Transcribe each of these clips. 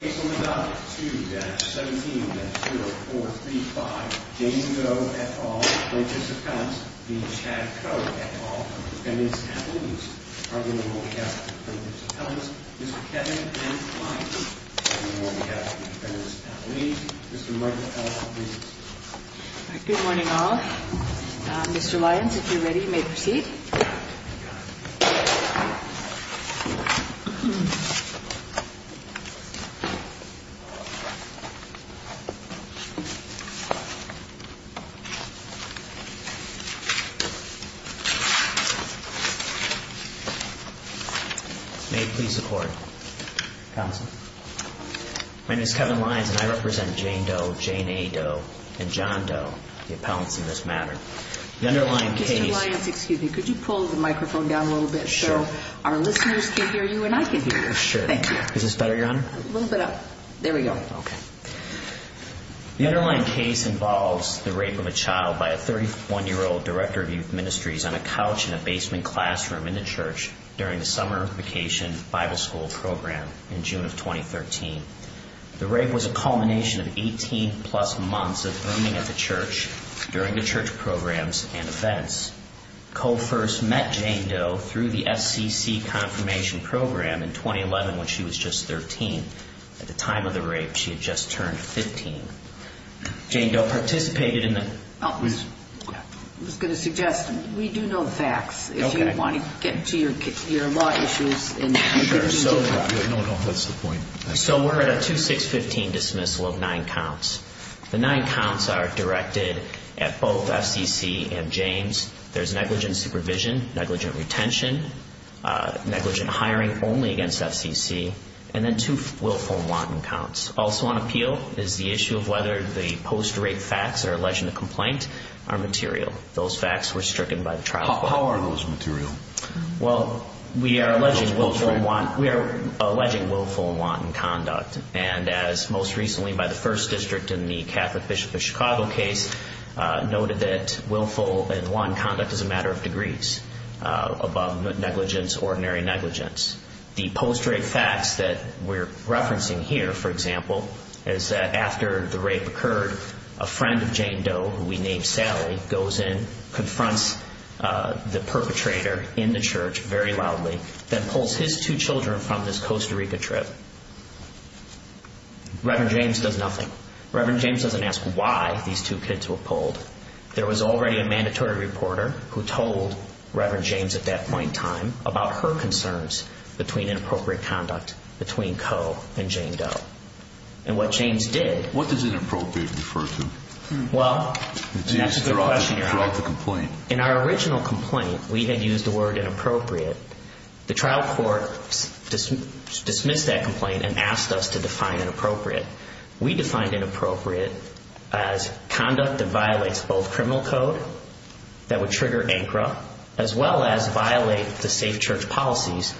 Case number 9-2-17-0435 James Doe, et al., plaintiff's defense, v. Chad Coe, et al., defendant's attorneys. Arguing the roll, we have the defendants' attorneys, Mr. Kevin N. Lyons. Arguing the roll, we have the defendants' attorneys, Mr. Michael Allen, please. Good morning, all. Mr. Lyons, if you're ready, you may proceed. May it please the Court. Counsel. My name is Kevin Lyons, and I represent Jane Doe, Jane A. Doe, and John Doe, the appellants in this matter. The underlying case... Mr. Lyons, excuse me, could you pull the microphone down a little bit so our listeners can hear you and I can hear you? Sure. Thank you. Is this better, Your Honor? A little bit up. There we go. Okay. The underlying case involves the rape of a child by a 31-year-old director of youth ministries on a couch in a basement classroom in the church during the summer vacation Bible school program in June of 2013. The rape was a culmination of 18-plus months of earning at the church during the church programs and events. Coe first met Jane Doe through the FCC confirmation program in 2011 when she was just 13. At the time of the rape, she had just turned 15. Jane Doe participated in the... I was going to suggest, we do know the facts. Okay. If you want to get into your law issues... Sure. No, no, that's the point. So we're at a 2-6-15 dismissal of nine counts. The nine counts are directed at both FCC and James. There's negligent supervision, negligent retention, negligent hiring only against FCC, and then two willful and wanton counts. Also on appeal is the issue of whether the post-rape facts that are alleged in the complaint are material. Those facts were stricken by the trial court. How are those material? Well, we are alleging willful and wanton conduct. And as most recently by the first district in the Catholic Bishop of Chicago case, noted that willful and wanton conduct is a matter of degrees, above negligence, ordinary negligence. The post-rape facts that we're referencing here, for example, is that after the rape occurred, a friend of Jane Doe, who we named Sally, goes in, confronts the perpetrator in the church very loudly, then pulls his two children from this Costa Rica trip. Reverend James does nothing. Reverend James doesn't ask why these two kids were pulled. There was already a mandatory reporter who told Reverend James at that point in time about her concerns between inappropriate conduct between Coe and Jane Doe. And what James did... What does inappropriate refer to? Well, that's the question you're asking. Throughout the complaint. In our original complaint, we had used the word inappropriate. The trial court dismissed that complaint and asked us to define inappropriate. We defined inappropriate as conduct that violates both criminal code, that would trigger ANCRA, as well as violate the safe church policies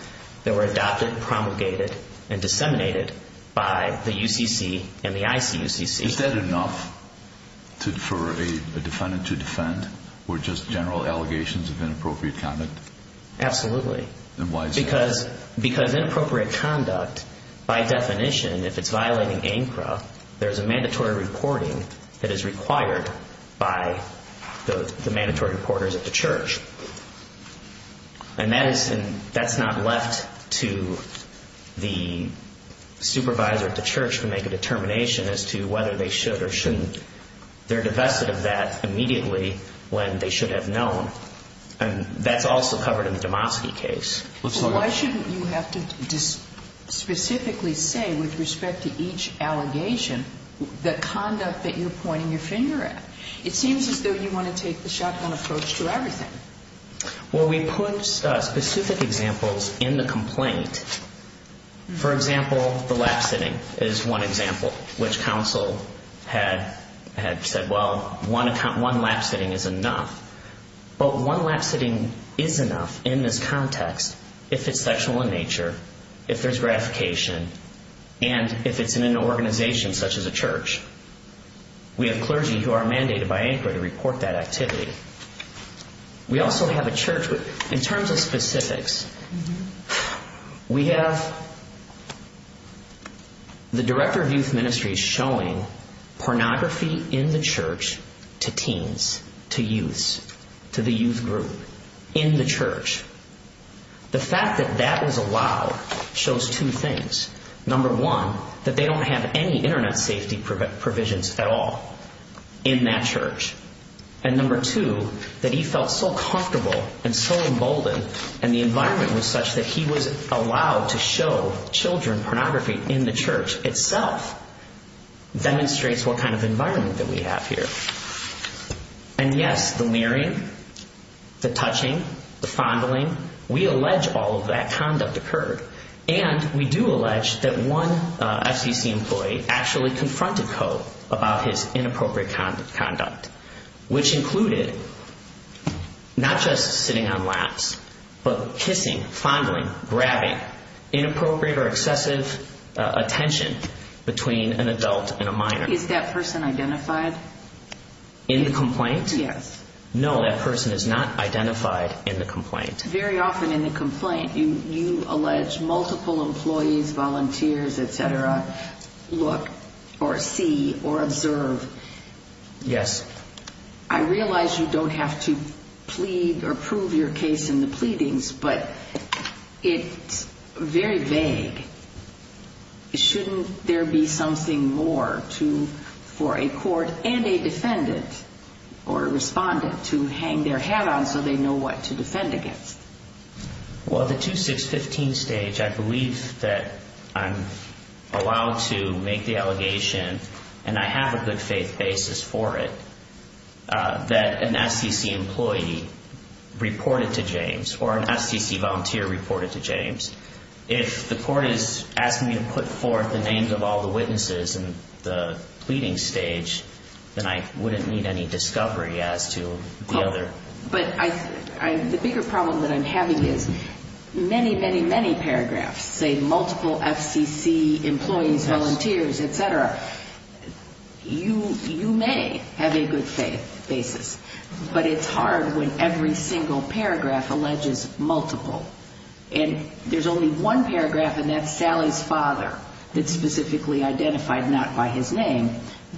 that were adopted, promulgated, and disseminated by the UCC and the ICUCC. Is that enough for a defendant to defend, or just general allegations of inappropriate conduct? Absolutely. And why is that? Because inappropriate conduct, by definition, if it's violating ANCRA, there's a mandatory reporting that is required by the mandatory reporters at the church. And that's not left to the supervisor at the church to make a determination as to whether they should or shouldn't. They're divested of that immediately when they should have known. And that's also covered in the Domosky case. Why shouldn't you have to specifically say, with respect to each allegation, the conduct that you're pointing your finger at? It seems as though you want to take the shotgun approach to everything. Well, we put specific examples in the complaint. For example, the lap sitting is one example, which counsel had said, well, one lap sitting is enough. But one lap sitting is enough in this context if it's sexual in nature, if there's gratification, and if it's in an organization such as a church. We have clergy who are mandated by ANCRA to report that activity. We also have a church with, in terms of specifics, we have the director of youth ministries showing pornography in the church to teens, to youths, to the youth group, in the church. The fact that that is allowed shows two things. Number one, that they don't have any internet safety provisions at all in that church. And number two, that he felt so comfortable and so emboldened, and the environment was such that he was allowed to show children pornography in the church itself demonstrates what kind of environment that we have here. And yes, the nearing, the touching, the fondling, we allege all of that conduct occurred. And we do allege that one FCC employee actually confronted Coe about his inappropriate conduct, which included not just sitting on laps, but kissing, fondling, grabbing, inappropriate or excessive attention between an adult and a minor. Is that person identified? In the complaint? Yes. No, that person is not identified in the complaint. Very often in the complaint you allege multiple employees, volunteers, et cetera, look or see or observe. Yes. I realize you don't have to plead or prove your case in the pleadings, but it's very vague. Shouldn't there be something more for a court and a defendant or respondent to hang their hat on so they know what to defend against? Well, the 2615 stage, I believe that I'm allowed to make the allegation, and I have a good faith basis for it, that an FCC employee reported to James or an FCC volunteer reported to James. If the court is asking me to put forth the names of all the witnesses in the pleading stage, then I wouldn't need any discovery as to the other. But the bigger problem that I'm having is many, many, many paragraphs say multiple FCC employees, volunteers, et cetera. You may have a good faith basis, but it's hard when every single paragraph alleges multiple. And there's only one paragraph, and that's Sally's father, that's specifically identified not by his name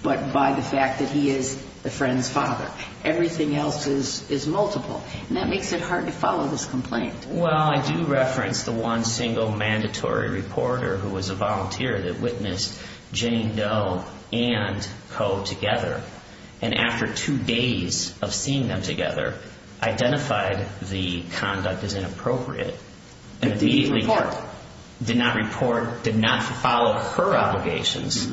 but by the fact that he is the friend's father. Everything else is multiple, and that makes it hard to follow this complaint. Well, I do reference the one single mandatory reporter who was a volunteer that witnessed Jane Doe and Coe together, and after two days of seeing them together, identified the conduct as inappropriate. And immediately did not report, did not follow her obligations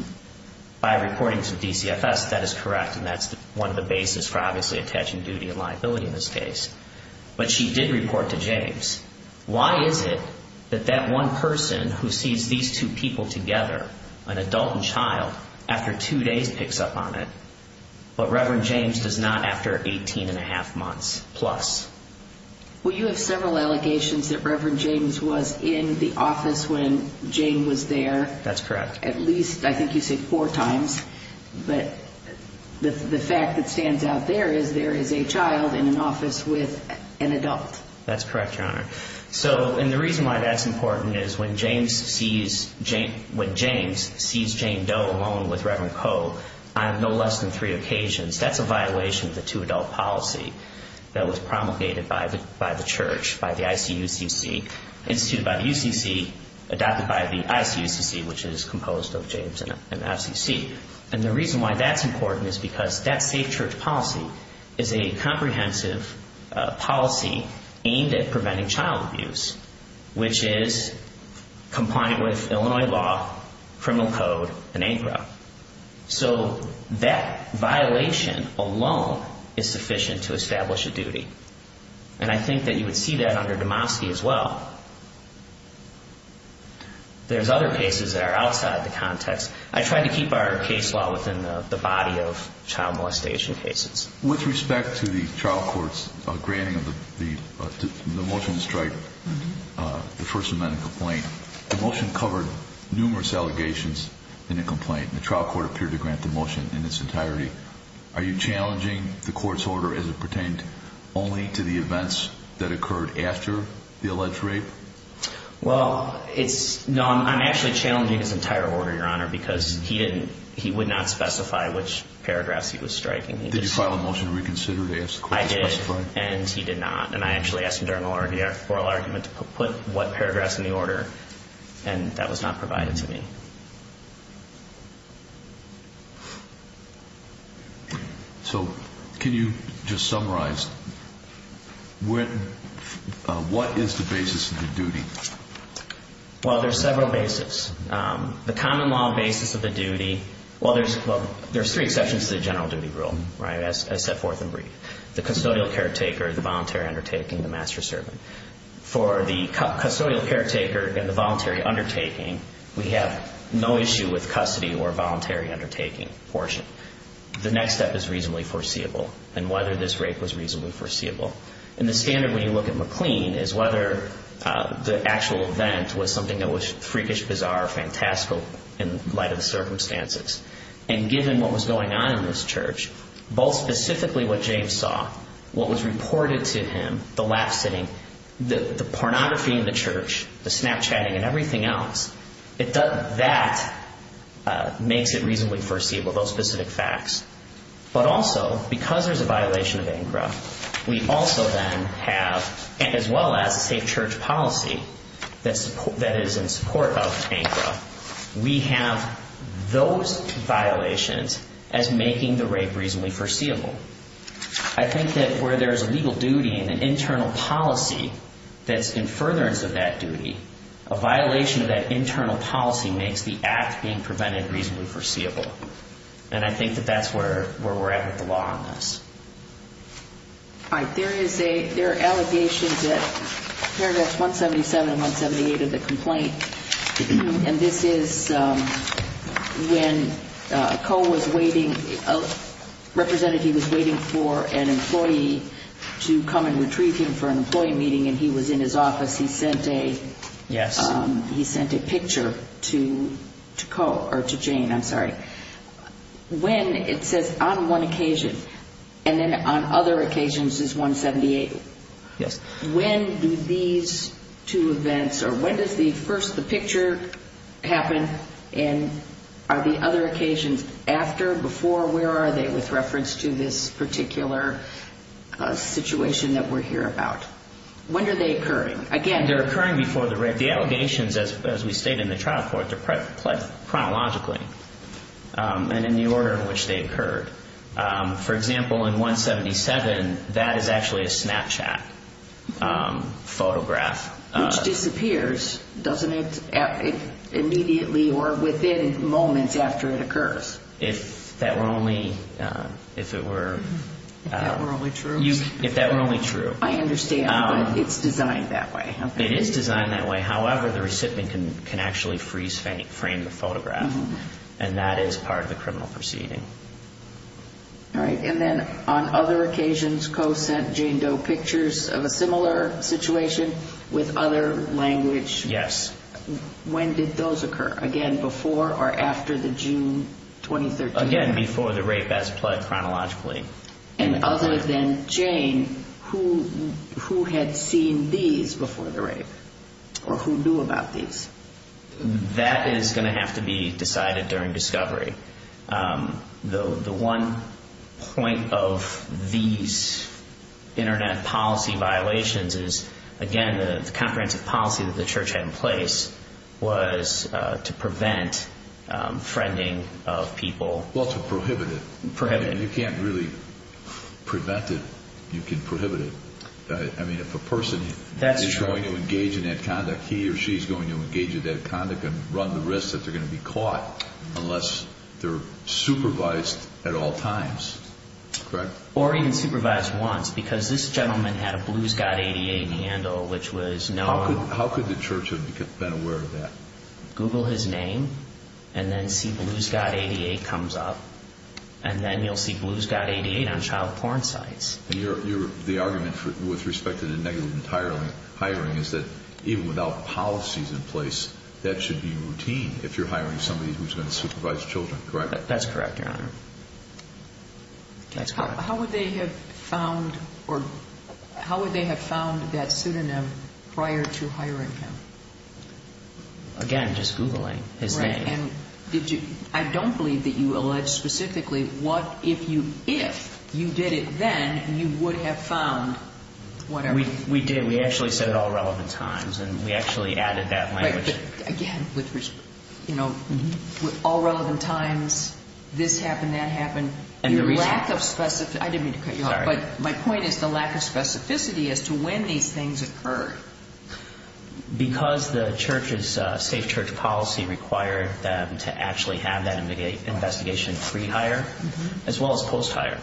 by reporting to DCFS. That is correct, and that's one of the basis for obviously attaching duty and liability in this case. But she did report to James. Why is it that that one person who sees these two people together, an adult and child, after two days picks up on it, but Reverend James does not after 18-and-a-half months plus? Well, you have several allegations that Reverend James was in the office when Jane was there. That's correct. At least, I think you said four times, but the fact that stands out there is there is a child in an office with an adult. That's correct, Your Honor. And the reason why that's important is when James sees Jane Doe alone with Reverend Coe on no less than three occasions, that's a violation of the two-adult policy that was promulgated by the church, by the ICUCC, instituted by the UCC, adopted by the ICUCC, which is composed of James and FCC. And the reason why that's important is because that safe church policy is a comprehensive policy aimed at preventing child abuse, which is compliant with Illinois law, criminal code, and ANCRA. So that violation alone is sufficient to establish a duty. And I think that you would see that under Demoski as well. There's other cases that are outside the context. I try to keep our case law within the body of child molestation cases. With respect to the trial court's granting of the motion to strike the First Amendment complaint, the motion covered numerous allegations in the complaint. The trial court appeared to grant the motion in its entirety. Are you challenging the court's order as it pertained only to the events that occurred after the alleged rape? Well, I'm actually challenging his entire order, Your Honor, because he would not specify which paragraphs he was striking. Did you file a motion to reconsider to ask the court to specify? I did, and he did not. And I actually asked him during the oral argument to put what paragraphs in the order, and that was not provided to me. So can you just summarize what is the basis of the duty? Well, there's several basis. The common law basis of the duty, well, there's three exceptions to the general duty rule, right, as set forth in brief. The custodial caretaker, the voluntary undertaking, the master servant. For the custodial caretaker and the voluntary undertaking, we have no issue with custody or voluntary undertaking portion. The next step is reasonably foreseeable and whether this rape was reasonably foreseeable. And the standard when you look at McLean is whether the actual event was something that was freakish, bizarre, or fantastical in light of the circumstances. And given what was going on in this church, both specifically what James saw, what was reported to him, the lap sitting, the pornography in the church, the Snapchatting, and everything else, that makes it reasonably foreseeable, those specific facts. But also, because there's a violation of ANCRA, we also then have, as well as a safe church policy that is in support of ANCRA, we have those violations as making the rape reasonably foreseeable. I think that where there's a legal duty and an internal policy that's in furtherance of that duty, a violation of that internal policy makes the act being prevented reasonably foreseeable. And I think that that's where we're at with the law on this. There are allegations at paragraphs 177 and 178 of the complaint. And this is when a co-representative was waiting for an employee to come and retrieve him for an employee meeting and he was in his office. He sent a picture to Jane. When, it says on one occasion, and then on other occasions is 178. When do these two events, or when does the first, the picture happen, and are the other occasions after, before, where are they with reference to this particular situation that we're here about? When are they occurring? They're occurring before the rape. The allegations, as we state in the trial court, they're pledged chronologically and in the order in which they occurred. For example, in 177, that is actually a Snapchat photograph. Which disappears, doesn't it, immediately or within moments after it occurs? If that were only, if it were. If that were only true? If that were only true. I understand, but it's designed that way. It is designed that way. However, the recipient can actually freeze frame the photograph. And that is part of the criminal proceeding. All right. And then on other occasions co-sent Jane Doe pictures of a similar situation with other language. Yes. When did those occur? Again, before the rape as pledged chronologically. And other than Jane, who had seen these before the rape? Or who knew about these? That is going to have to be decided during discovery. The one point of these Internet policy violations is, again, the comprehensive policy that the church had in place was to prevent friending of people. Well, to prohibit it. Prohibit it. I mean, you can't really prevent it. You can prohibit it. I mean, if a person is going to engage in that conduct, he or she is going to engage in that conduct and run the risk that they're going to be caught unless they're supervised at all times. Correct? Or even supervised once. Because this gentleman had a Blue Scott 88 handle, which was known. How could the church have been aware of that? Google his name, and then see Blue Scott 88 comes up, and then you'll see Blue Scott 88 on child porn sites. The argument with respect to the negative entire hiring is that even without policies in place, that should be routine if you're hiring somebody who's going to supervise children. Correct? That's correct, Your Honor. How would they have found that pseudonym prior to hiring him? Again, just Googling his name. Right. And I don't believe that you allege specifically what if you did it then, you would have found whatever. We did. We actually said at all relevant times, and we actually added that language. Right. But, again, with all relevant times, this happened, that happened. And the reason. The lack of specificity. I didn't mean to cut you off. Sorry. But my point is the lack of specificity as to when these things occurred. Because the church's safe church policy required them to actually have that investigation pre-hire as well as post-hire.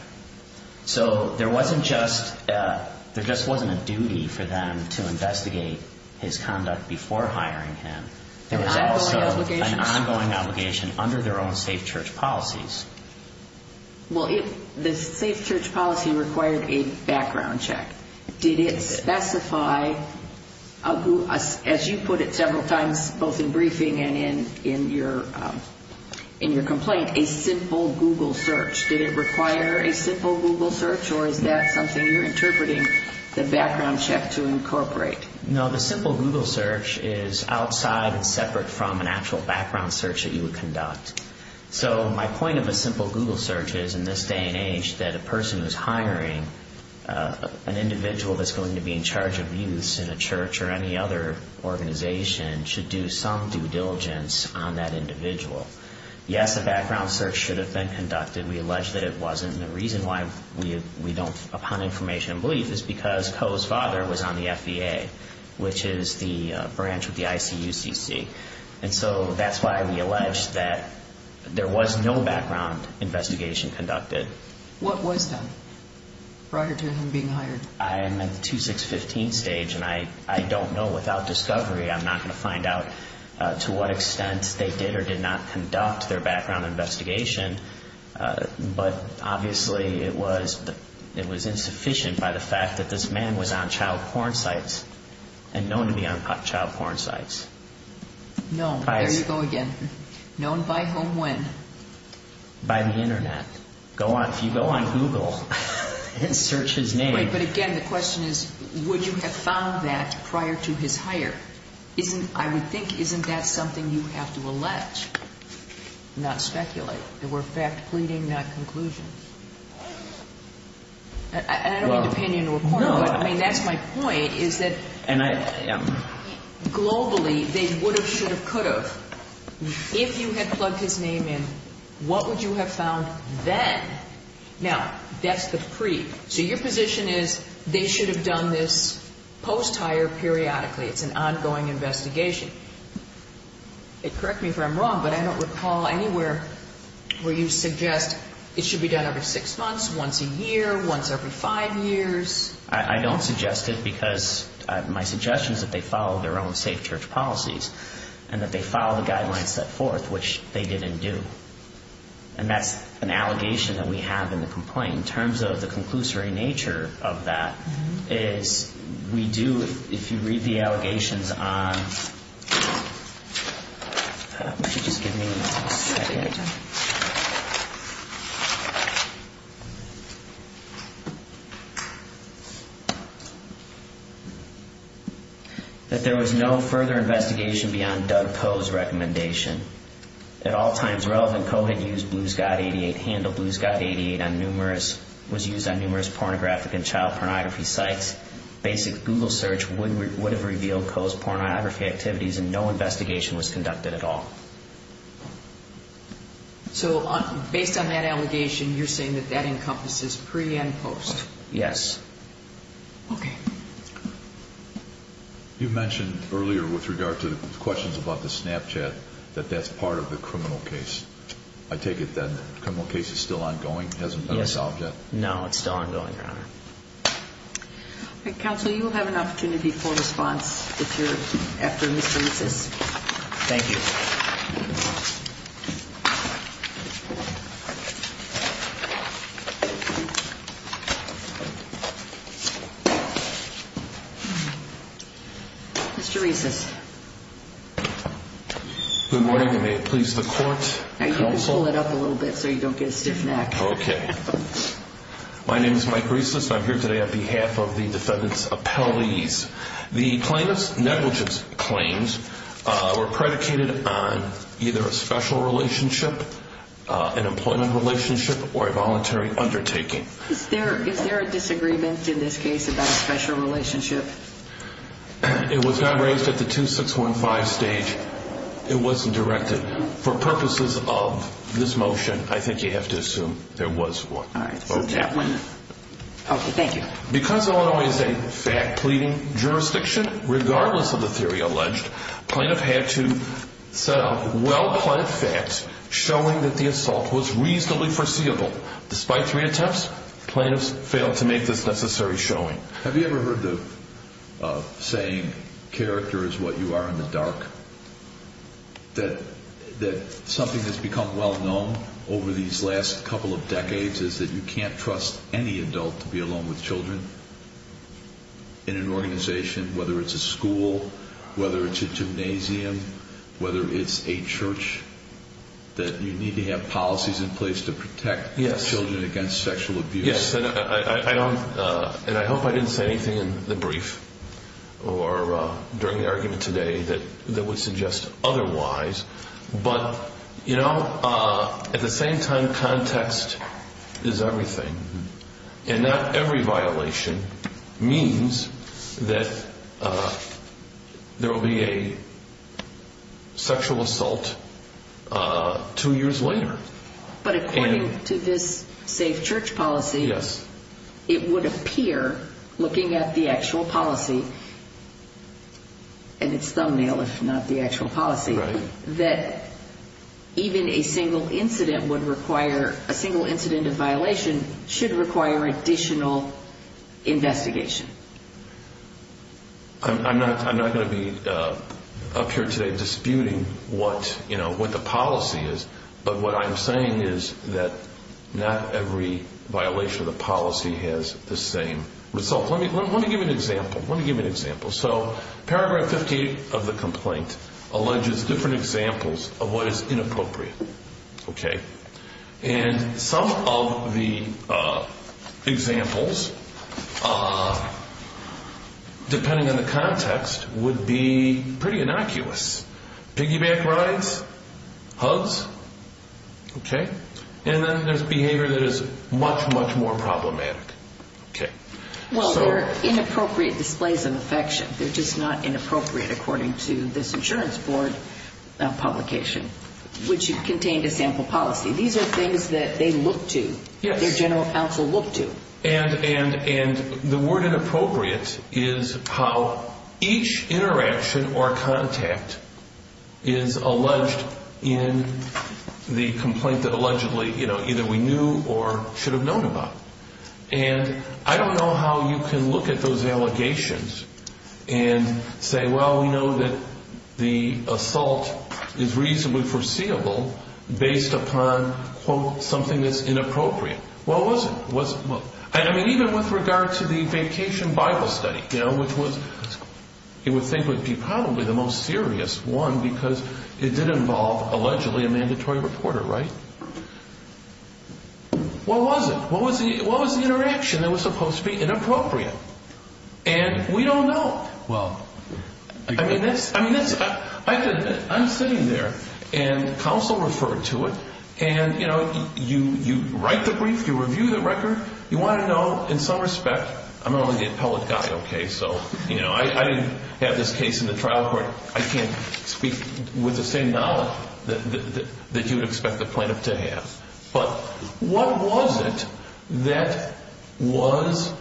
So there just wasn't a duty for them to investigate his conduct before hiring him. There was also an ongoing obligation under their own safe church policies. Well, the safe church policy required a background check. Did it specify, as you put it several times both in briefing and in your complaint, a simple Google search? Did it require a simple Google search, or is that something you're interpreting the background check to incorporate? No, the simple Google search is outside and separate from an actual background search that you would conduct. So my point of a simple Google search is, in this day and age, that a person who's hiring an individual that's going to be in charge of youths in a church or any other organization should do some due diligence on that individual. Yes, a background search should have been conducted. We allege that it wasn't. And the reason why we don't, upon information and belief, is because Coe's father was on the FBA, which is the branch with the ICUCC. And so that's why we allege that there was no background investigation conducted. What was done prior to him being hired? I am at the 2-6-15 stage, and I don't know without discovery. I'm not going to find out to what extent they did or did not conduct their background investigation. But obviously it was insufficient by the fact that this man was on child porn sites and known to be on child porn sites. Known. There you go again. Known by whom when? By the Internet. If you go on Google and search his name. But again, the question is, would you have found that prior to his hire? I would think, isn't that something you have to allege? Not speculate. They were fact pleading, not conclusions. And I don't mean to pin you into a corner. No. I mean, that's my point, is that globally, they would have, should have, could have. If you had plugged his name in, what would you have found then? Now, that's the pre. So your position is they should have done this post-hire periodically. It's an ongoing investigation. Correct me if I'm wrong, but I don't recall anywhere where you suggest it should be done every six months, once a year, once every five years. I don't suggest it because my suggestion is that they follow their own safe church policies and that they follow the guidelines set forth, which they didn't do. And that's an allegation that we have in the complaint. In terms of the conclusory nature of that, is we do, if you read the allegations on. Would you just give me a second? That there was no further investigation beyond Doug Koh's recommendation. At all times relevant, Koh had used Blue Scott 88, handled Blue Scott 88 on numerous, was used on numerous pornographic and child pornography sites. Basic Google search would have revealed Koh's pornography activities and no investigation was conducted at all. So based on that allegation, you're saying that that encompasses pre and post? Yes. Okay. You mentioned earlier with regard to the questions about the Snapchat, that that's part of the criminal case. I take it that the criminal case is still ongoing, hasn't been solved yet? No, it's still ongoing, Your Honor. Counsel, you will have an opportunity for response if you're after Mr. Mises. Thank you. Mr. Rieslis. Good morning, and may it please the court, counsel. Pull it up a little bit so you don't get a stiff neck. Okay. My name is Mike Rieslis, and I'm here today on behalf of the defendant's appellees. The plaintiff's negligence claims were predicated on either a special relationship, an employment relationship, or a voluntary undertaking. Is there a disagreement in this case about a special relationship? It was not raised at the 2615 stage. It wasn't directed. For purposes of this motion, I think you have to assume there was one. All right. Okay, thank you. Because Illinois is a fact-pleading jurisdiction, regardless of the theory alleged, plaintiff had to set up well-planned facts showing that the assault was reasonably foreseeable. Despite three attempts, plaintiffs failed to make this necessary showing. Have you ever heard the saying, character is what you are in the dark? That something that's become well-known over these last couple of decades is that you can't trust any adult to be alone with children in an organization, whether it's a school, whether it's a gymnasium, whether it's a church, that you need to have policies in place to protect. Yes. Children against sexual abuse. Yes. And I hope I didn't say anything in the brief or during the argument today that would suggest otherwise. But, you know, at the same time, context is everything. And not every violation means that there will be a sexual assault two years later. But according to this safe church policy, it would appear, looking at the actual policy, and it's thumbnail, if not the actual policy, that even a single incident of violation should require additional investigation. I'm not going to be up here today disputing what the policy is, but what I'm saying is that not every violation of the policy has the same result. Let me give you an example. Let me give you an example. So paragraph 58 of the complaint alleges different examples of what is inappropriate. Okay. And some of the examples, depending on the context, would be pretty innocuous. Piggyback rides, hugs. Okay. And then there's behavior that is much, much more problematic. Okay. Well, there are inappropriate displays of affection. They're just not inappropriate according to this insurance board publication, which contained a sample policy. These are things that they look to. Yes. Their general counsel look to. And the word inappropriate is how each interaction or contact is alleged in the complaint that allegedly either we knew or should have known about. And I don't know how you can look at those allegations and say, well, we know that the assault is reasonably foreseeable based upon, quote, something that's inappropriate. What was it? I mean, even with regard to the vacation Bible study, which it would think would be probably the most serious one because it did involve allegedly a mandatory reporter, right? What was it? What was the interaction that was supposed to be inappropriate? And we don't know. Well, I mean, I'm sitting there, and counsel referred to it, and, you know, you write the brief, you review the record, you want to know in some respect. I'm only the appellate guy, okay? So, you know, I didn't have this case in the trial court. I can't speak with the same knowledge that you would expect the plaintiff to have. But what was it that was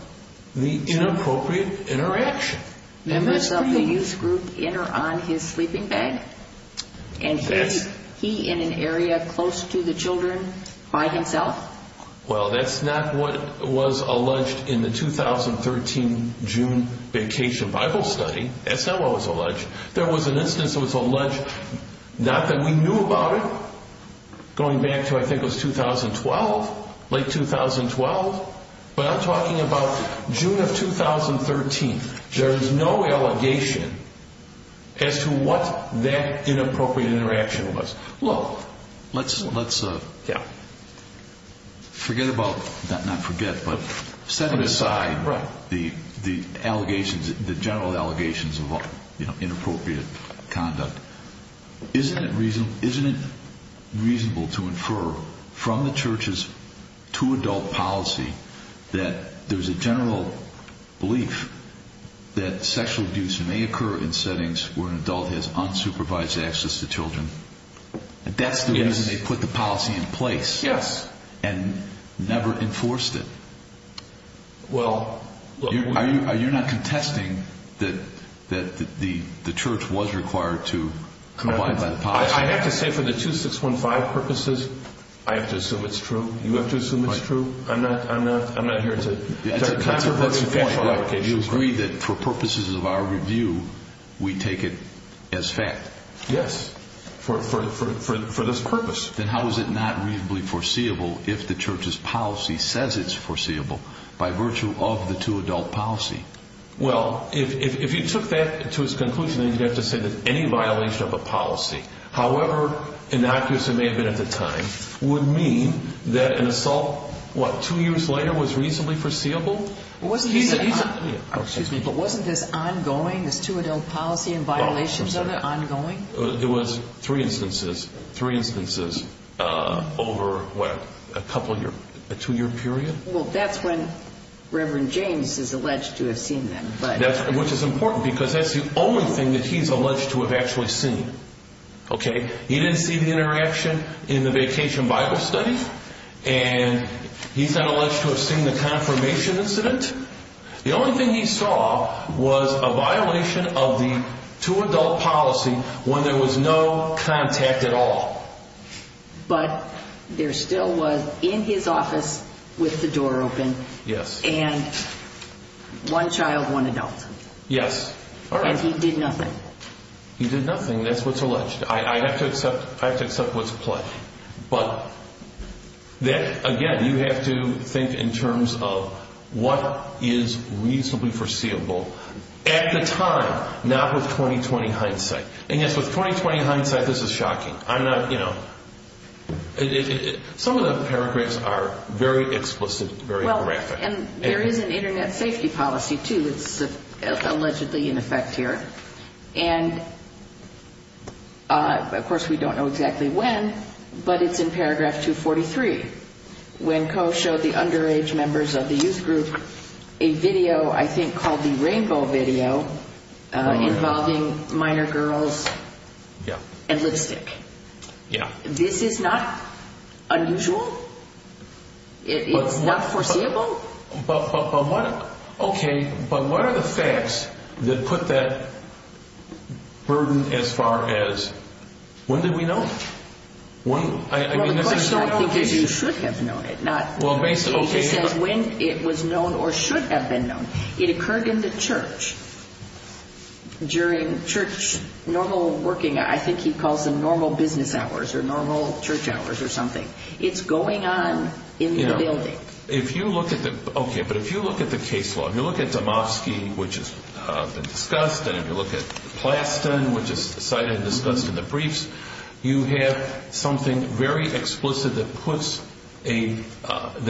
the inappropriate interaction? Members of the youth group enter on his sleeping bag, and he in an area close to the children by himself? Well, that's not what was alleged in the 2013 June vacation Bible study. That's not what was alleged. There was an instance that was alleged, not that we knew about it, going back to I think it was 2012, late 2012. But I'm talking about June of 2013. There is no allegation as to what that inappropriate interaction was. Look, let's forget about, not forget, but set aside the allegations, the general allegations of inappropriate conduct. Isn't it reasonable to infer from the church's two-adult policy that there's a general belief that sexual abuse may occur in settings where an adult has unsupervised access to children? That's the reason they put the policy in place and never enforced it. Are you not contesting that the church was required to abide by the policy? I have to say for the 2615 purposes, I have to assume it's true. You have to assume it's true? I'm not here to talk about any factual allegations. You agree that for purposes of our review, we take it as fact? Yes, for this purpose. Then how is it not reasonably foreseeable if the church's policy says it's foreseeable by virtue of the two-adult policy? Well, if you took that to its conclusion, then you'd have to say that any violation of a policy, however innocuous it may have been at the time, would mean that an assault, what, two years later was reasonably foreseeable? Excuse me, but wasn't this ongoing, this two-adult policy and violations of it ongoing? It was three instances. Three instances over, what, a couple of years, a two-year period? Well, that's when Reverend James is alleged to have seen them. Which is important because that's the only thing that he's alleged to have actually seen. He didn't see the interaction in the vacation Bible study, and he's not alleged to have seen the confirmation incident. The only thing he saw was a violation of the two-adult policy when there was no contact at all. But there still was, in his office, with the door open, and one child, one adult. Yes. And he did nothing. He did nothing. That's what's alleged. I have to accept what's pledged. But, again, you have to think in terms of what is reasonably foreseeable at the time, not with 20-20 hindsight. Some of the paragraphs are very explicit, very graphic. And there is an Internet safety policy, too, that's allegedly in effect here. And, of course, we don't know exactly when, but it's in paragraph 243, when Coe showed the underage members of the youth group a video, I think, called the Rainbow video, involving minor girls and lipstick. Yeah. This is not unusual? It's not foreseeable? Okay, but what are the facts that put that burden as far as, when did we know? Well, the question is not because you should have known it. It just says when it was known or should have been known. It occurred in the church. During church, normal working, I think he calls them normal business hours or normal church hours or something. It's going on in the building. If you look at the case law, if you look at Damofsky, which has been discussed, and if you look at Plaston, which is cited and discussed in the briefs, you have something very explicit that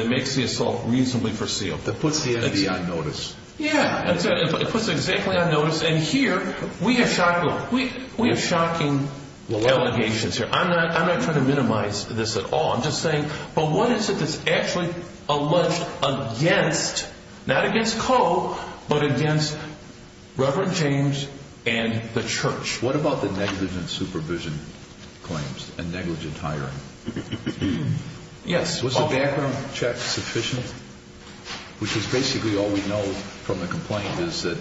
makes the assault reasonably foreseeable. That puts the NAD on notice. Yeah, it puts it exactly on notice. And here, we have shocking allegations here. I'm not trying to minimize this at all. I'm just saying, but what is it that's actually alleged against, not against Coe, but against Reverend James and the church? What about the negligent supervision claims and negligent hiring? Yes. Was the background check sufficient? Which is basically all we know from the complaint is that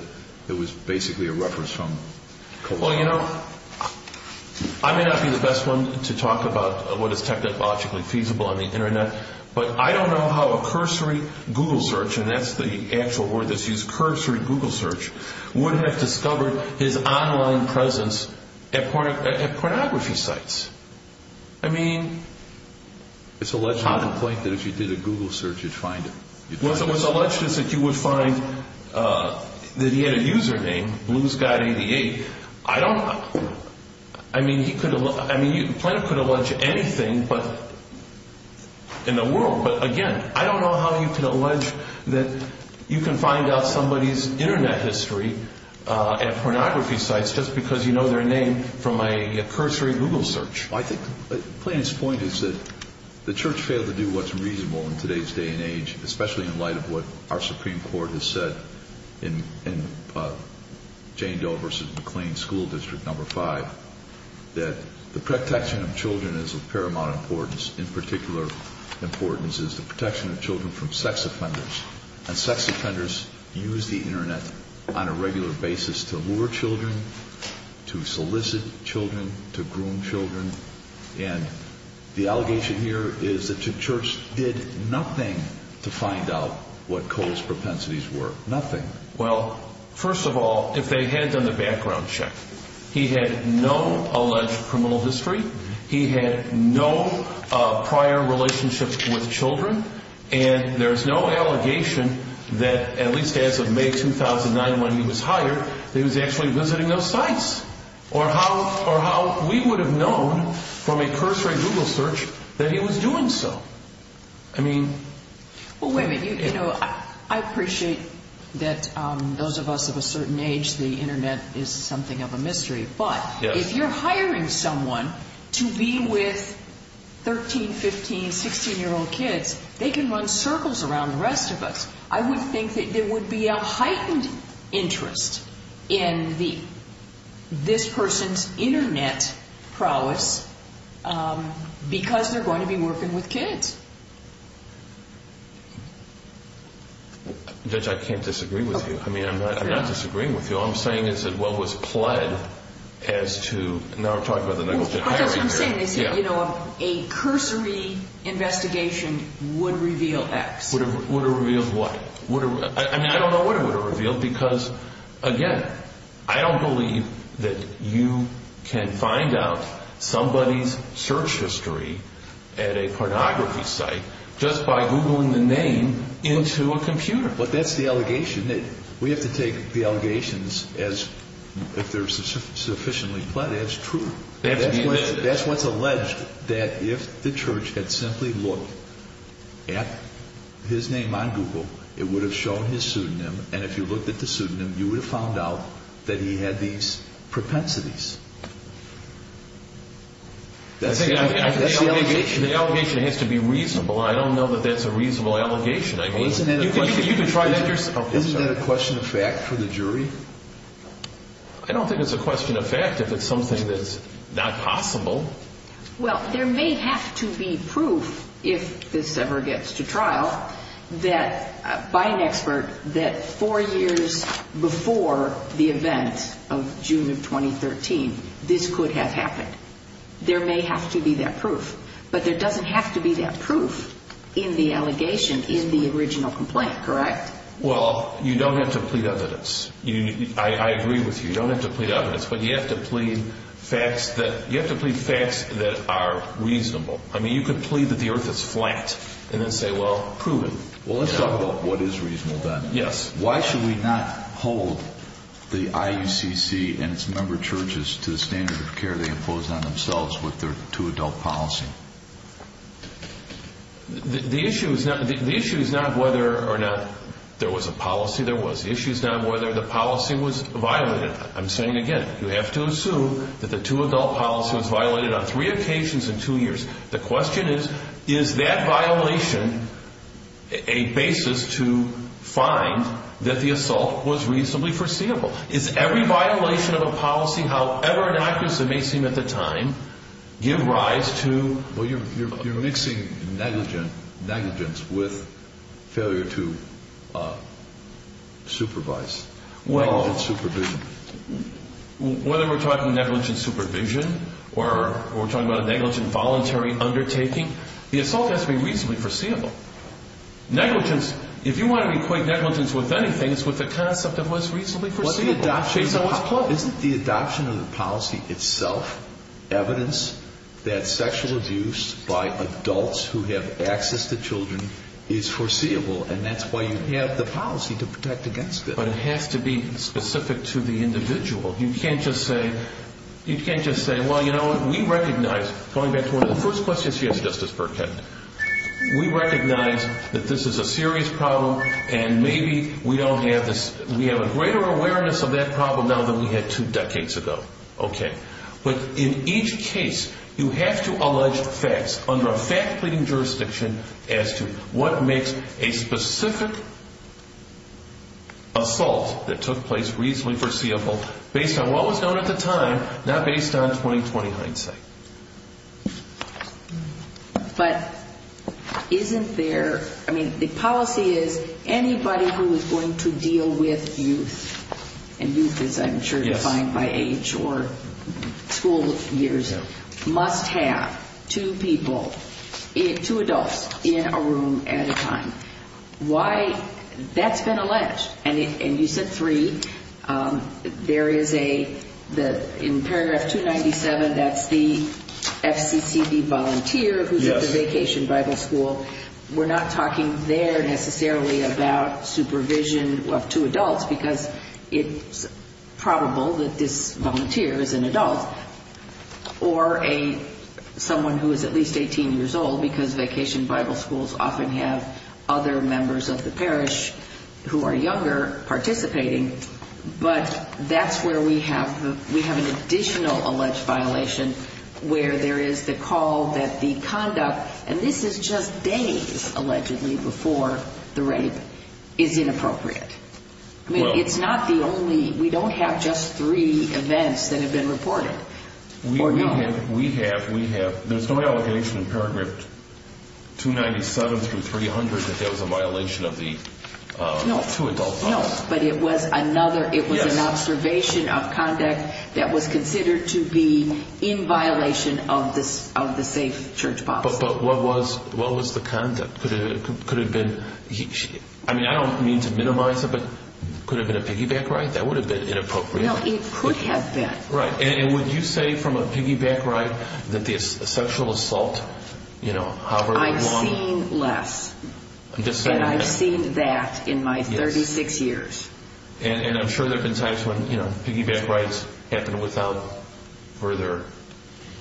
it was basically a reference from Coe. Well, you know, I may not be the best one to talk about what is technologically feasible on the Internet, but I don't know how a cursory Google search, and that's the actual word that's used, cursory Google search, would have discovered his online presence at pornography sites. I mean, it's alleged in the complaint that if you did a Google search, you'd find him. It was alleged that you would find that he had a username, bluesguy88. I don't, I mean, he could, I mean, the plaintiff could allege anything in the world, but again, I don't know how you could allege that you can find out somebody's Internet history at pornography sites just because you know their name from a cursory Google search. I think the plaintiff's point is that the church failed to do what's reasonable in today's day and age, especially in light of what our Supreme Court has said in Jane Doe v. McLean School District No. 5, that the protection of children is of paramount importance. In particular importance is the protection of children from sex offenders, and sex offenders use the Internet on a regular basis to lure children, to solicit children, to groom children, and the allegation here is that the church did nothing to find out what Cole's propensities were, nothing. Well, first of all, if they had done the background check, he had no alleged criminal history, he had no prior relationships with children, and there's no allegation that, at least as of May 2009 when he was hired, that he was actually visiting those sites, or how we would have known from a cursory Google search that he was doing so. I mean... Well, wait a minute, you know, I appreciate that those of us of a certain age, the Internet is something of a mystery, but if you're hiring someone to be with 13, 15, 16-year-old kids, they can run circles around the rest of us. I would think that there would be a heightened interest in this person's Internet prowess because they're going to be working with kids. Judge, I can't disagree with you. I mean, I'm not disagreeing with you. All I'm saying is that what was pled as to... Now we're talking about the negligent hiring. What I'm saying is, you know, a cursory investigation would reveal X. Would it reveal what? I mean, I don't know what it would have revealed because, again, I don't believe that you can find out somebody's search history at a pornography site just by Googling the name into a computer. But that's the allegation. We have to take the allegations as, if they're sufficiently pled as, true. That's what's alleged, that if the church had simply looked at his name on Google, it would have shown his pseudonym, and if you looked at the pseudonym, you would have found out that he had these propensities. That's the allegation. The allegation has to be reasonable. I don't know that that's a reasonable allegation. Isn't that a question of fact for the jury? I don't think it's a question of fact if it's something that's not possible. Well, there may have to be proof, if this ever gets to trial, that, by an expert, that four years before the event of June of 2013, this could have happened. There may have to be that proof. But there doesn't have to be that proof in the allegation in the original complaint, correct? Well, you don't have to plead evidence. I agree with you. You don't have to plead evidence, but you have to plead facts that are reasonable. I mean, you could plead that the earth is flat and then say, well, prove it. Well, let's talk about what is reasonable, then. Yes. Why should we not hold the IUCC and its member churches to the standard of care they impose on themselves with their two-adult policy? The issue is not whether or not there was a policy there was. The issue is not whether the policy was violated. I'm saying again, you have to assume that the two-adult policy was violated on three occasions in two years. The question is, is that violation a basis to find that the assault was reasonably foreseeable? Is every violation of a policy, however inaccurate as it may seem at the time, give rise to... Well, you're mixing negligence with failure to supervise, negligent supervision. Whether we're talking negligent supervision or we're talking about a negligent voluntary undertaking, the assault has to be reasonably foreseeable. Negligence, if you want to equate negligence with anything, it's with the concept of what's reasonably foreseeable. Isn't the adoption of the policy itself evidence that sexual abuse by adults who have access to children is foreseeable? And that's why you have the policy to protect against it. But it has to be specific to the individual. You can't just say, well, you know, we recognize... Going back to one of the first questions, yes, Justice Burkett. We recognize that this is a serious problem and maybe we don't have this... We have a greater awareness of that problem now than we had two decades ago. But in each case, you have to allege facts under a fact-pleating jurisdiction as to what makes a specific assault that took place reasonably foreseeable, based on what was known at the time, not based on 2020 hindsight. But isn't there... I mean, the policy is anybody who is going to deal with youth, and youth is, I'm sure, defined by age or school years, must have two people, two adults, in a room at a time. Why? That's been alleged. And you said three. There is a... In paragraph 297, that's the FCCD volunteer who's at the Vacation Bible School. We're not talking there necessarily about supervision of two adults, because it's probable that this volunteer is an adult. Or someone who is at least 18 years old, because Vacation Bible Schools often have other members of the parish who are younger participating. But that's where we have an additional alleged violation, where there is the call that the conduct... And this is just days, allegedly, before the rape is inappropriate. I mean, it's not the only... We don't have just three events that have been reported. We have... There's no allegation in paragraph 297 through 300 that there was a violation of the two-adult policy. No, but it was another... Yes. It was an observation of conduct that was considered to be in violation of the safe church policy. But what was the conduct? Could it have been... I mean, I don't mean to minimize it, but could it have been a piggyback ride? That would have been inappropriate. Well, it could have been. Right. And would you say from a piggyback ride that the sexual assault, you know, however long... I've seen less. I'm just saying that. And I've seen that in my 36 years. And I'm sure there have been times when, you know, piggyback rides happened without further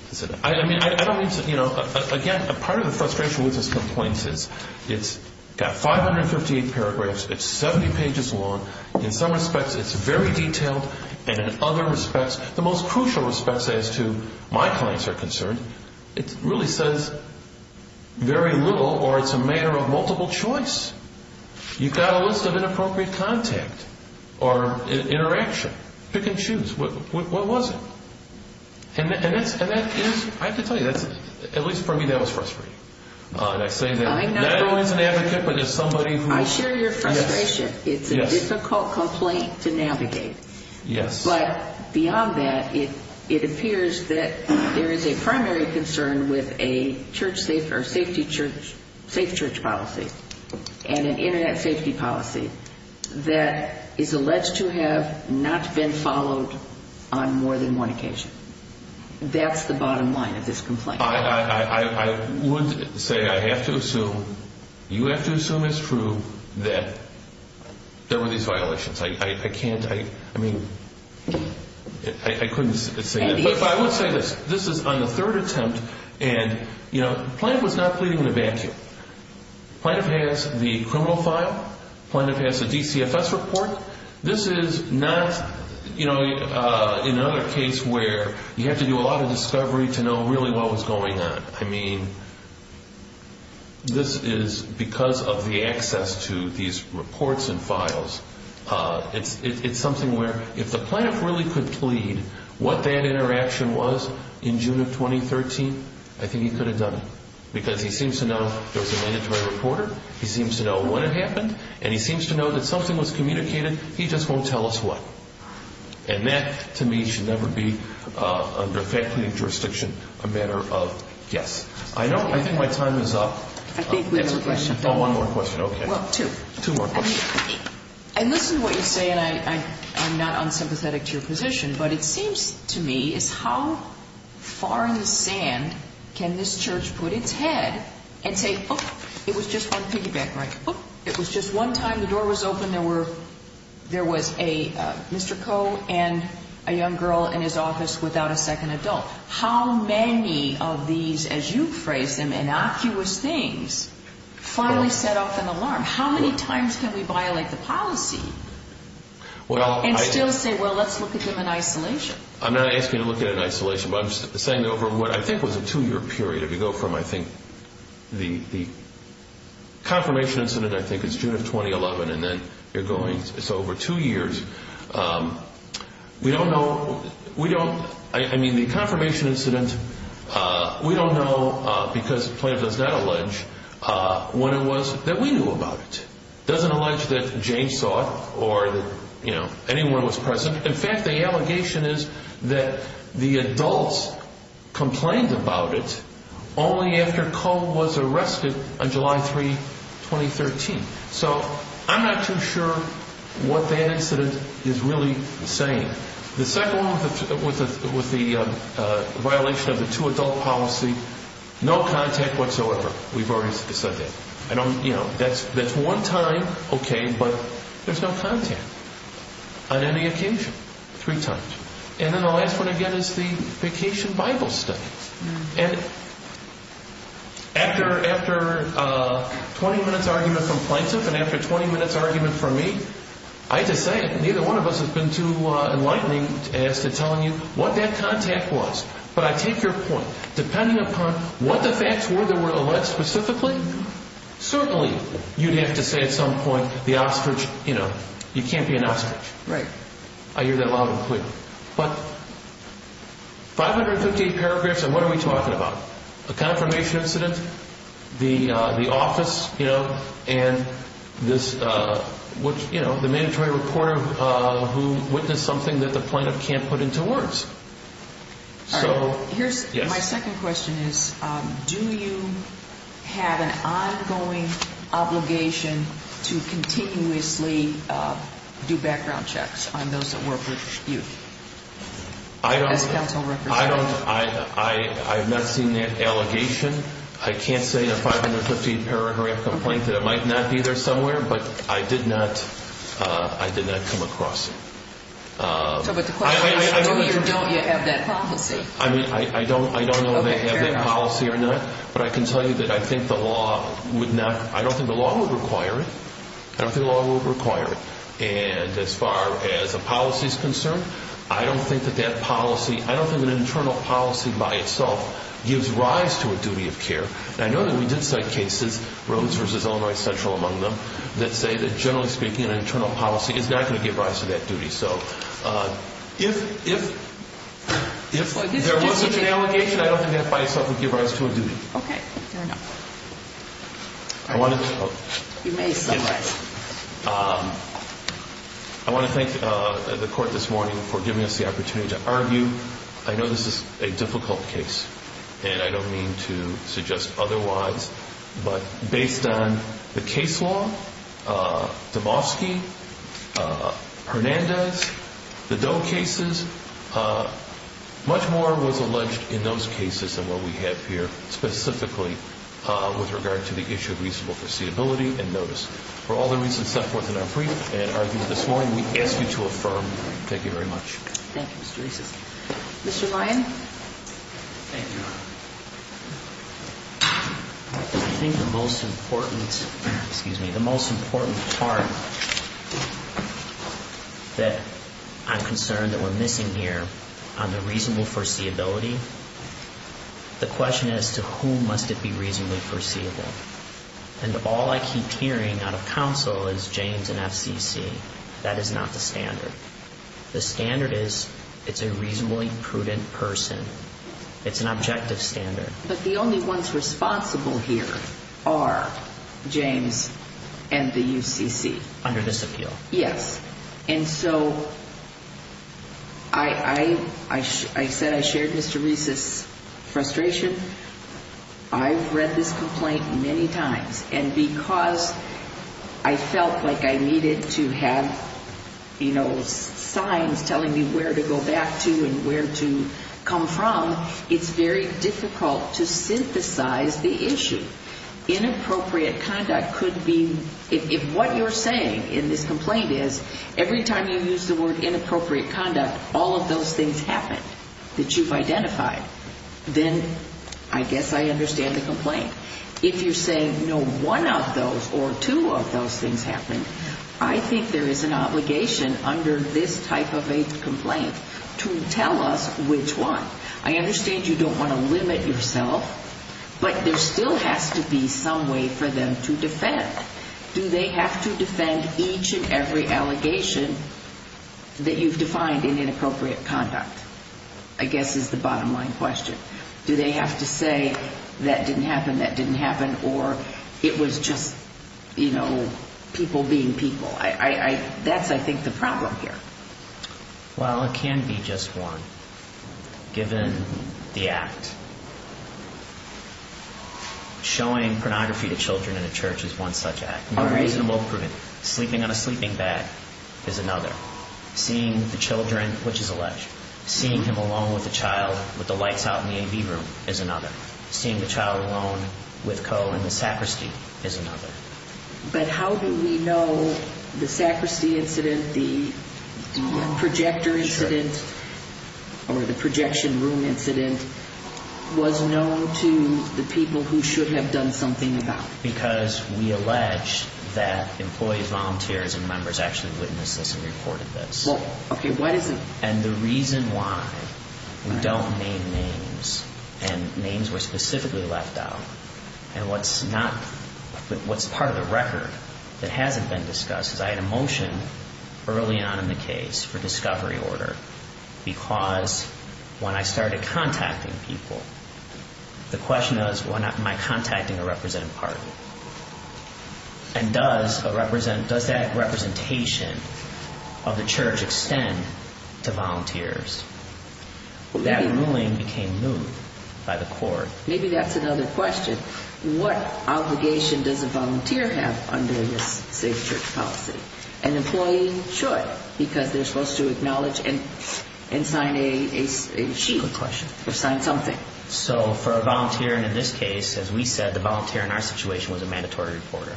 consideration. I mean, I don't mean to, you know... Again, part of the frustration with this complaint is it's got 558 paragraphs. It's 70 pages long. In some respects, it's very detailed. And in other respects, the most crucial respects as to my clients are concerned, it really says very little or it's a matter of multiple choice. You've got a list of inappropriate contact or interaction. Pick and choose. What was it? And that is, I have to tell you, at least for me, that was frustrating. And I say that not only as an advocate, but as somebody who... I share your frustration. It's a difficult complaint to navigate. Yes. But beyond that, it appears that there is a primary concern with a safe church policy and an Internet safety policy that is alleged to have not been followed on more than one occasion. That's the bottom line of this complaint. I would say I have to assume, you have to assume it's true that there were these violations. I can't... I mean, I couldn't say that. But I would say this. This is on the third attempt. And, you know, Plaintiff was not pleading with a vacuum. Plaintiff has the criminal file. Plaintiff has the DCFS report. This is not, you know, another case where you have to do a lot of discovery to know really what was going on. I mean, this is because of the access to these reports and files. It's something where if the plaintiff really could plead what that interaction was in June of 2013, I think he could have done it because he seems to know there was a mandatory reporter. He seems to know when it happened. And he seems to know that something was communicated. He just won't tell us what. And that, to me, should never be, under faculty jurisdiction, a matter of guess. I think my time is up. I think we have a question. Oh, one more question. Okay. Well, two. Two more questions. And listen to what you say, and I'm not unsympathetic to your position, but it seems to me is how far in the sand can this church put its head and say, oh, it was just one piggyback ride. Oh, it was just one time the door was open. There was a Mr. Coe and a young girl in his office without a second adult. How many of these, as you phrase them, innocuous things finally set off an alarm? How many times can we violate the policy and still say, well, let's look at them in isolation? I'm not asking you to look at it in isolation, but I'm saying over what I think was a two-year period. If you go from, I think, the confirmation incident, I think it's June of 2011, and then you're going. So over two years, we don't know. I mean, the confirmation incident, we don't know because the plaintiff does not allege when it was that we knew about it. It doesn't allege that Jane saw it or that anyone was present. In fact, the allegation is that the adults complained about it only after Coe was arrested on July 3, 2013. So I'm not too sure what that incident is really saying. The second one was the violation of the two-adult policy, no contact whatsoever. We've already said that. That's one time, okay, but there's no contact on any occasion, three times. And then the last one, again, is the vacation Bible study. And after a 20-minute argument from plaintiff and after a 20-minute argument from me, I have to say it. One of us has been too enlightening to ask to tell you what that contact was. But I take your point. Depending upon what the facts were that were alleged specifically, certainly you'd have to say at some point, the ostrich, you know, you can't be an ostrich. Right. I hear that loud and clear. But 558 paragraphs, and what are we talking about? A confirmation incident, the office, you know, and this, you know, the mandatory reporter who witnessed something that the plaintiff can't put into words. So, yes. My second question is, do you have an ongoing obligation to continuously do background checks on those that work with you as counsel representatives? I don't. I have not seen that allegation. I can't say in a 550-paragraph complaint that it might not be there somewhere, but I did not come across it. So, but the question is, do you or don't you have that policy? I mean, I don't know if they have that policy or not. But I can tell you that I think the law would not, I don't think the law would require it. I don't think the law would require it. And as far as a policy is concerned, I don't think that that policy, I don't think an internal policy by itself gives rise to a duty of care. And I know that we did cite cases, Rhodes v. Illinois Central among them, that say that, generally speaking, an internal policy is not going to give rise to that duty. So, if there was such an allegation, I don't think that by itself would give rise to a duty. Okay. Fair enough. I want to thank the court this morning for giving us the opportunity to argue. I know this is a difficult case, and I don't mean to suggest otherwise, but based on the case law, Dabowski, Hernandez, the Doe cases, much more was alleged in those cases than what we have here, specifically with regard to the issue of reasonable foreseeability and notice. For all the reasons set forth in our brief and argued this morning, we ask you to affirm. Thank you very much. Thank you, Mr. Rees. Mr. Lyon? Thank you. I think the most important part that I'm concerned that we're missing here on the reasonable foreseeability, the question is, to whom must it be reasonably foreseeable? And all I keep hearing out of counsel is James and FCC. That is not the standard. The standard is, it's a reasonably prudent person. It's an objective standard. But the only ones responsible here are James and the UCC. Under this appeal. Yes. And so I said I shared Mr. Rees's frustration. I've read this complaint many times. And because I felt like I needed to have, you know, signs telling me where to go back to and where to come from, it's very difficult to synthesize the issue. Inappropriate conduct could be, if what you're saying in this complaint is, every time you use the word inappropriate conduct, all of those things happen that you've identified, then I guess I understand the complaint. If you're saying no one of those or two of those things happened, I think there is an obligation under this type of a complaint to tell us which one. I understand you don't want to limit yourself, but there still has to be some way for them to defend. Do they have to defend each and every allegation that you've defined in inappropriate conduct? I guess is the bottom line question. Do they have to say that didn't happen, that didn't happen, or it was just, you know, people being people? That's, I think, the problem here. Well, it can be just one. Given the act. Showing pornography to children in a church is one such act. All right. Sleeping on a sleeping bag is another. Seeing the children, which is alleged. Seeing him alone with a child with the lights out in the AV room is another. Seeing the child alone with Coe in the sacristy is another. But how do we know the sacristy incident, the projector incident, or the projection room incident was known to the people who should have done something about it? Because we allege that employees, volunteers, and members actually witnessed this and reported this. Okay. What is it? And the reason why we don't name names and names were specifically left out, and what's not, what's part of the record that hasn't been discussed, is I had a motion early on in the case for discovery order because when I started contacting people, the question was, am I contacting a representative party? And does that representation of the church extend to volunteers? That ruling became moved by the court. Maybe that's another question. What obligation does a volunteer have under this safe church policy? An employee should because they're supposed to acknowledge and sign a sheet or sign something. Okay. So for a volunteer in this case, as we said, the volunteer in our situation was a mandatory reporter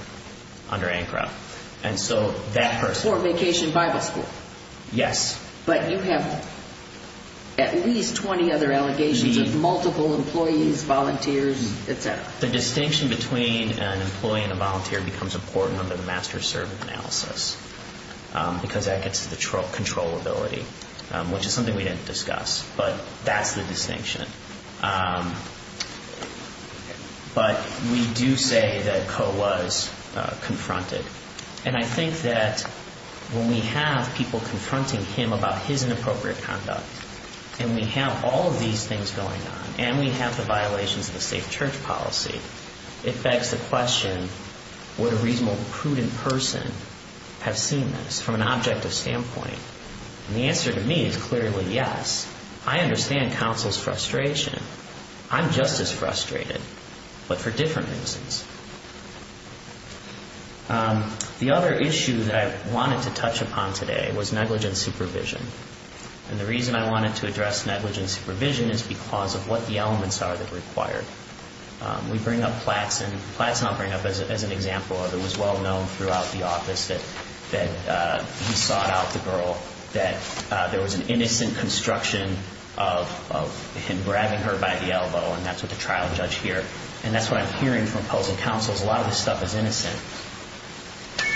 under ANCRA. And so that person... Fort Vacation Bible School. Yes. But you have at least 20 other allegations of multiple employees, volunteers, et cetera. The distinction between an employee and a volunteer becomes important under the master-servant analysis because that gets to the controllability, which is something we didn't discuss, but that's the distinction. But we do say that Coe was confronted. And I think that when we have people confronting him about his inappropriate conduct, and we have all of these things going on, and we have the violations of the safe church policy, it begs the question, would a reasonable, prudent person have seen this from an objective standpoint? And the answer to me is clearly yes. I understand counsel's frustration. I'm just as frustrated, but for different reasons. The other issue that I wanted to touch upon today was negligent supervision. And the reason I wanted to address negligent supervision is because of what the elements are that are required. We bring up Platt's, and Platt's I'll bring up as an example of it was well-known throughout the office that he sought out the girl, that there was an innocent construction of him grabbing her by the elbow, and that's what the trial judge here, and that's what I'm hearing from opposing counsel is a lot of this stuff is innocent.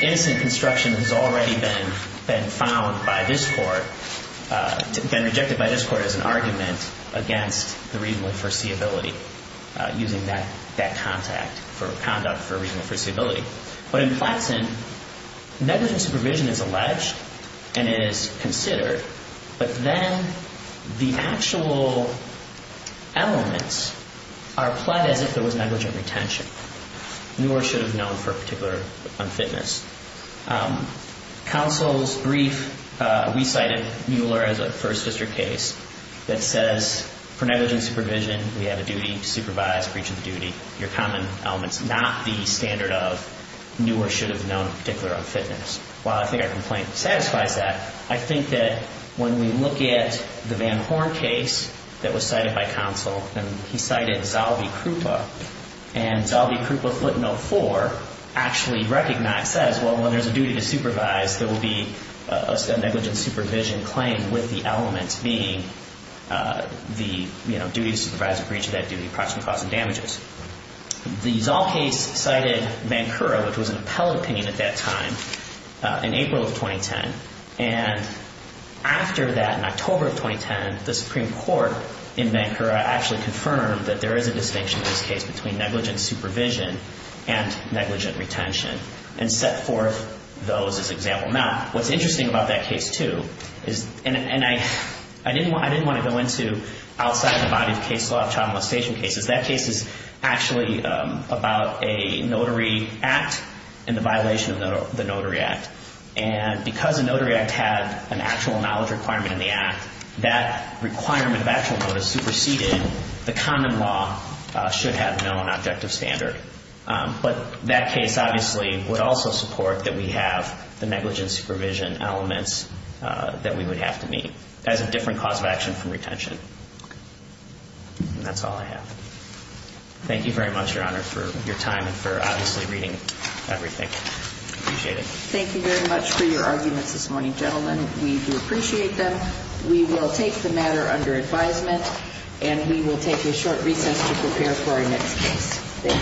Innocent construction has already been found by this court, been rejected by this court as an argument against the reasonable foreseeability, using that contact for conduct for reasonable foreseeability. But in Platt's end, negligent supervision is alleged and it is considered, but then the actual elements are applied as if there was negligent retention. Mueller should have known for a particular unfitness. Counsel's brief, we cited Mueller as a first district case that says for negligent supervision, we have a duty to supervise breach of duty. Your common element is not the standard of Mueller should have known particular unfitness. While I think our complaint satisfies that, I think that when we look at the Van Horn case that was cited by counsel, and he cited Zalby-Krupa, and Zalby-Krupa footnote 4 actually recognizes, well, when there's a duty to supervise, there will be a negligent supervision claim with the element being the, you know, duty to supervise a breach of that duty, approximately causing damages. The Zal case cited Vancouver, which was an appellate opinion at that time, in April of 2010, and after that, in October of 2010, the Supreme Court in Vancouver actually confirmed that there is a distinction in this case between negligent supervision and negligent retention and set forth those as example. Now, what's interesting about that case too is, and I didn't want to go into outside the body of case law of child molestation cases, that case is actually about a notary act and the violation of the notary act. And because the notary act had an actual knowledge requirement in the act, that requirement of actual notice superseded, the common law should have known objective standard. But that case obviously would also support that we have the negligent supervision elements that we would have to meet as a different cause of action from retention. And that's all I have. Thank you very much, Your Honor, for your time and for obviously reading everything. Appreciate it. Thank you very much for your arguments this morning, gentlemen. We do appreciate them. We will take the matter under advisement, and we will take a short recess to prepare for our next case. Thank you.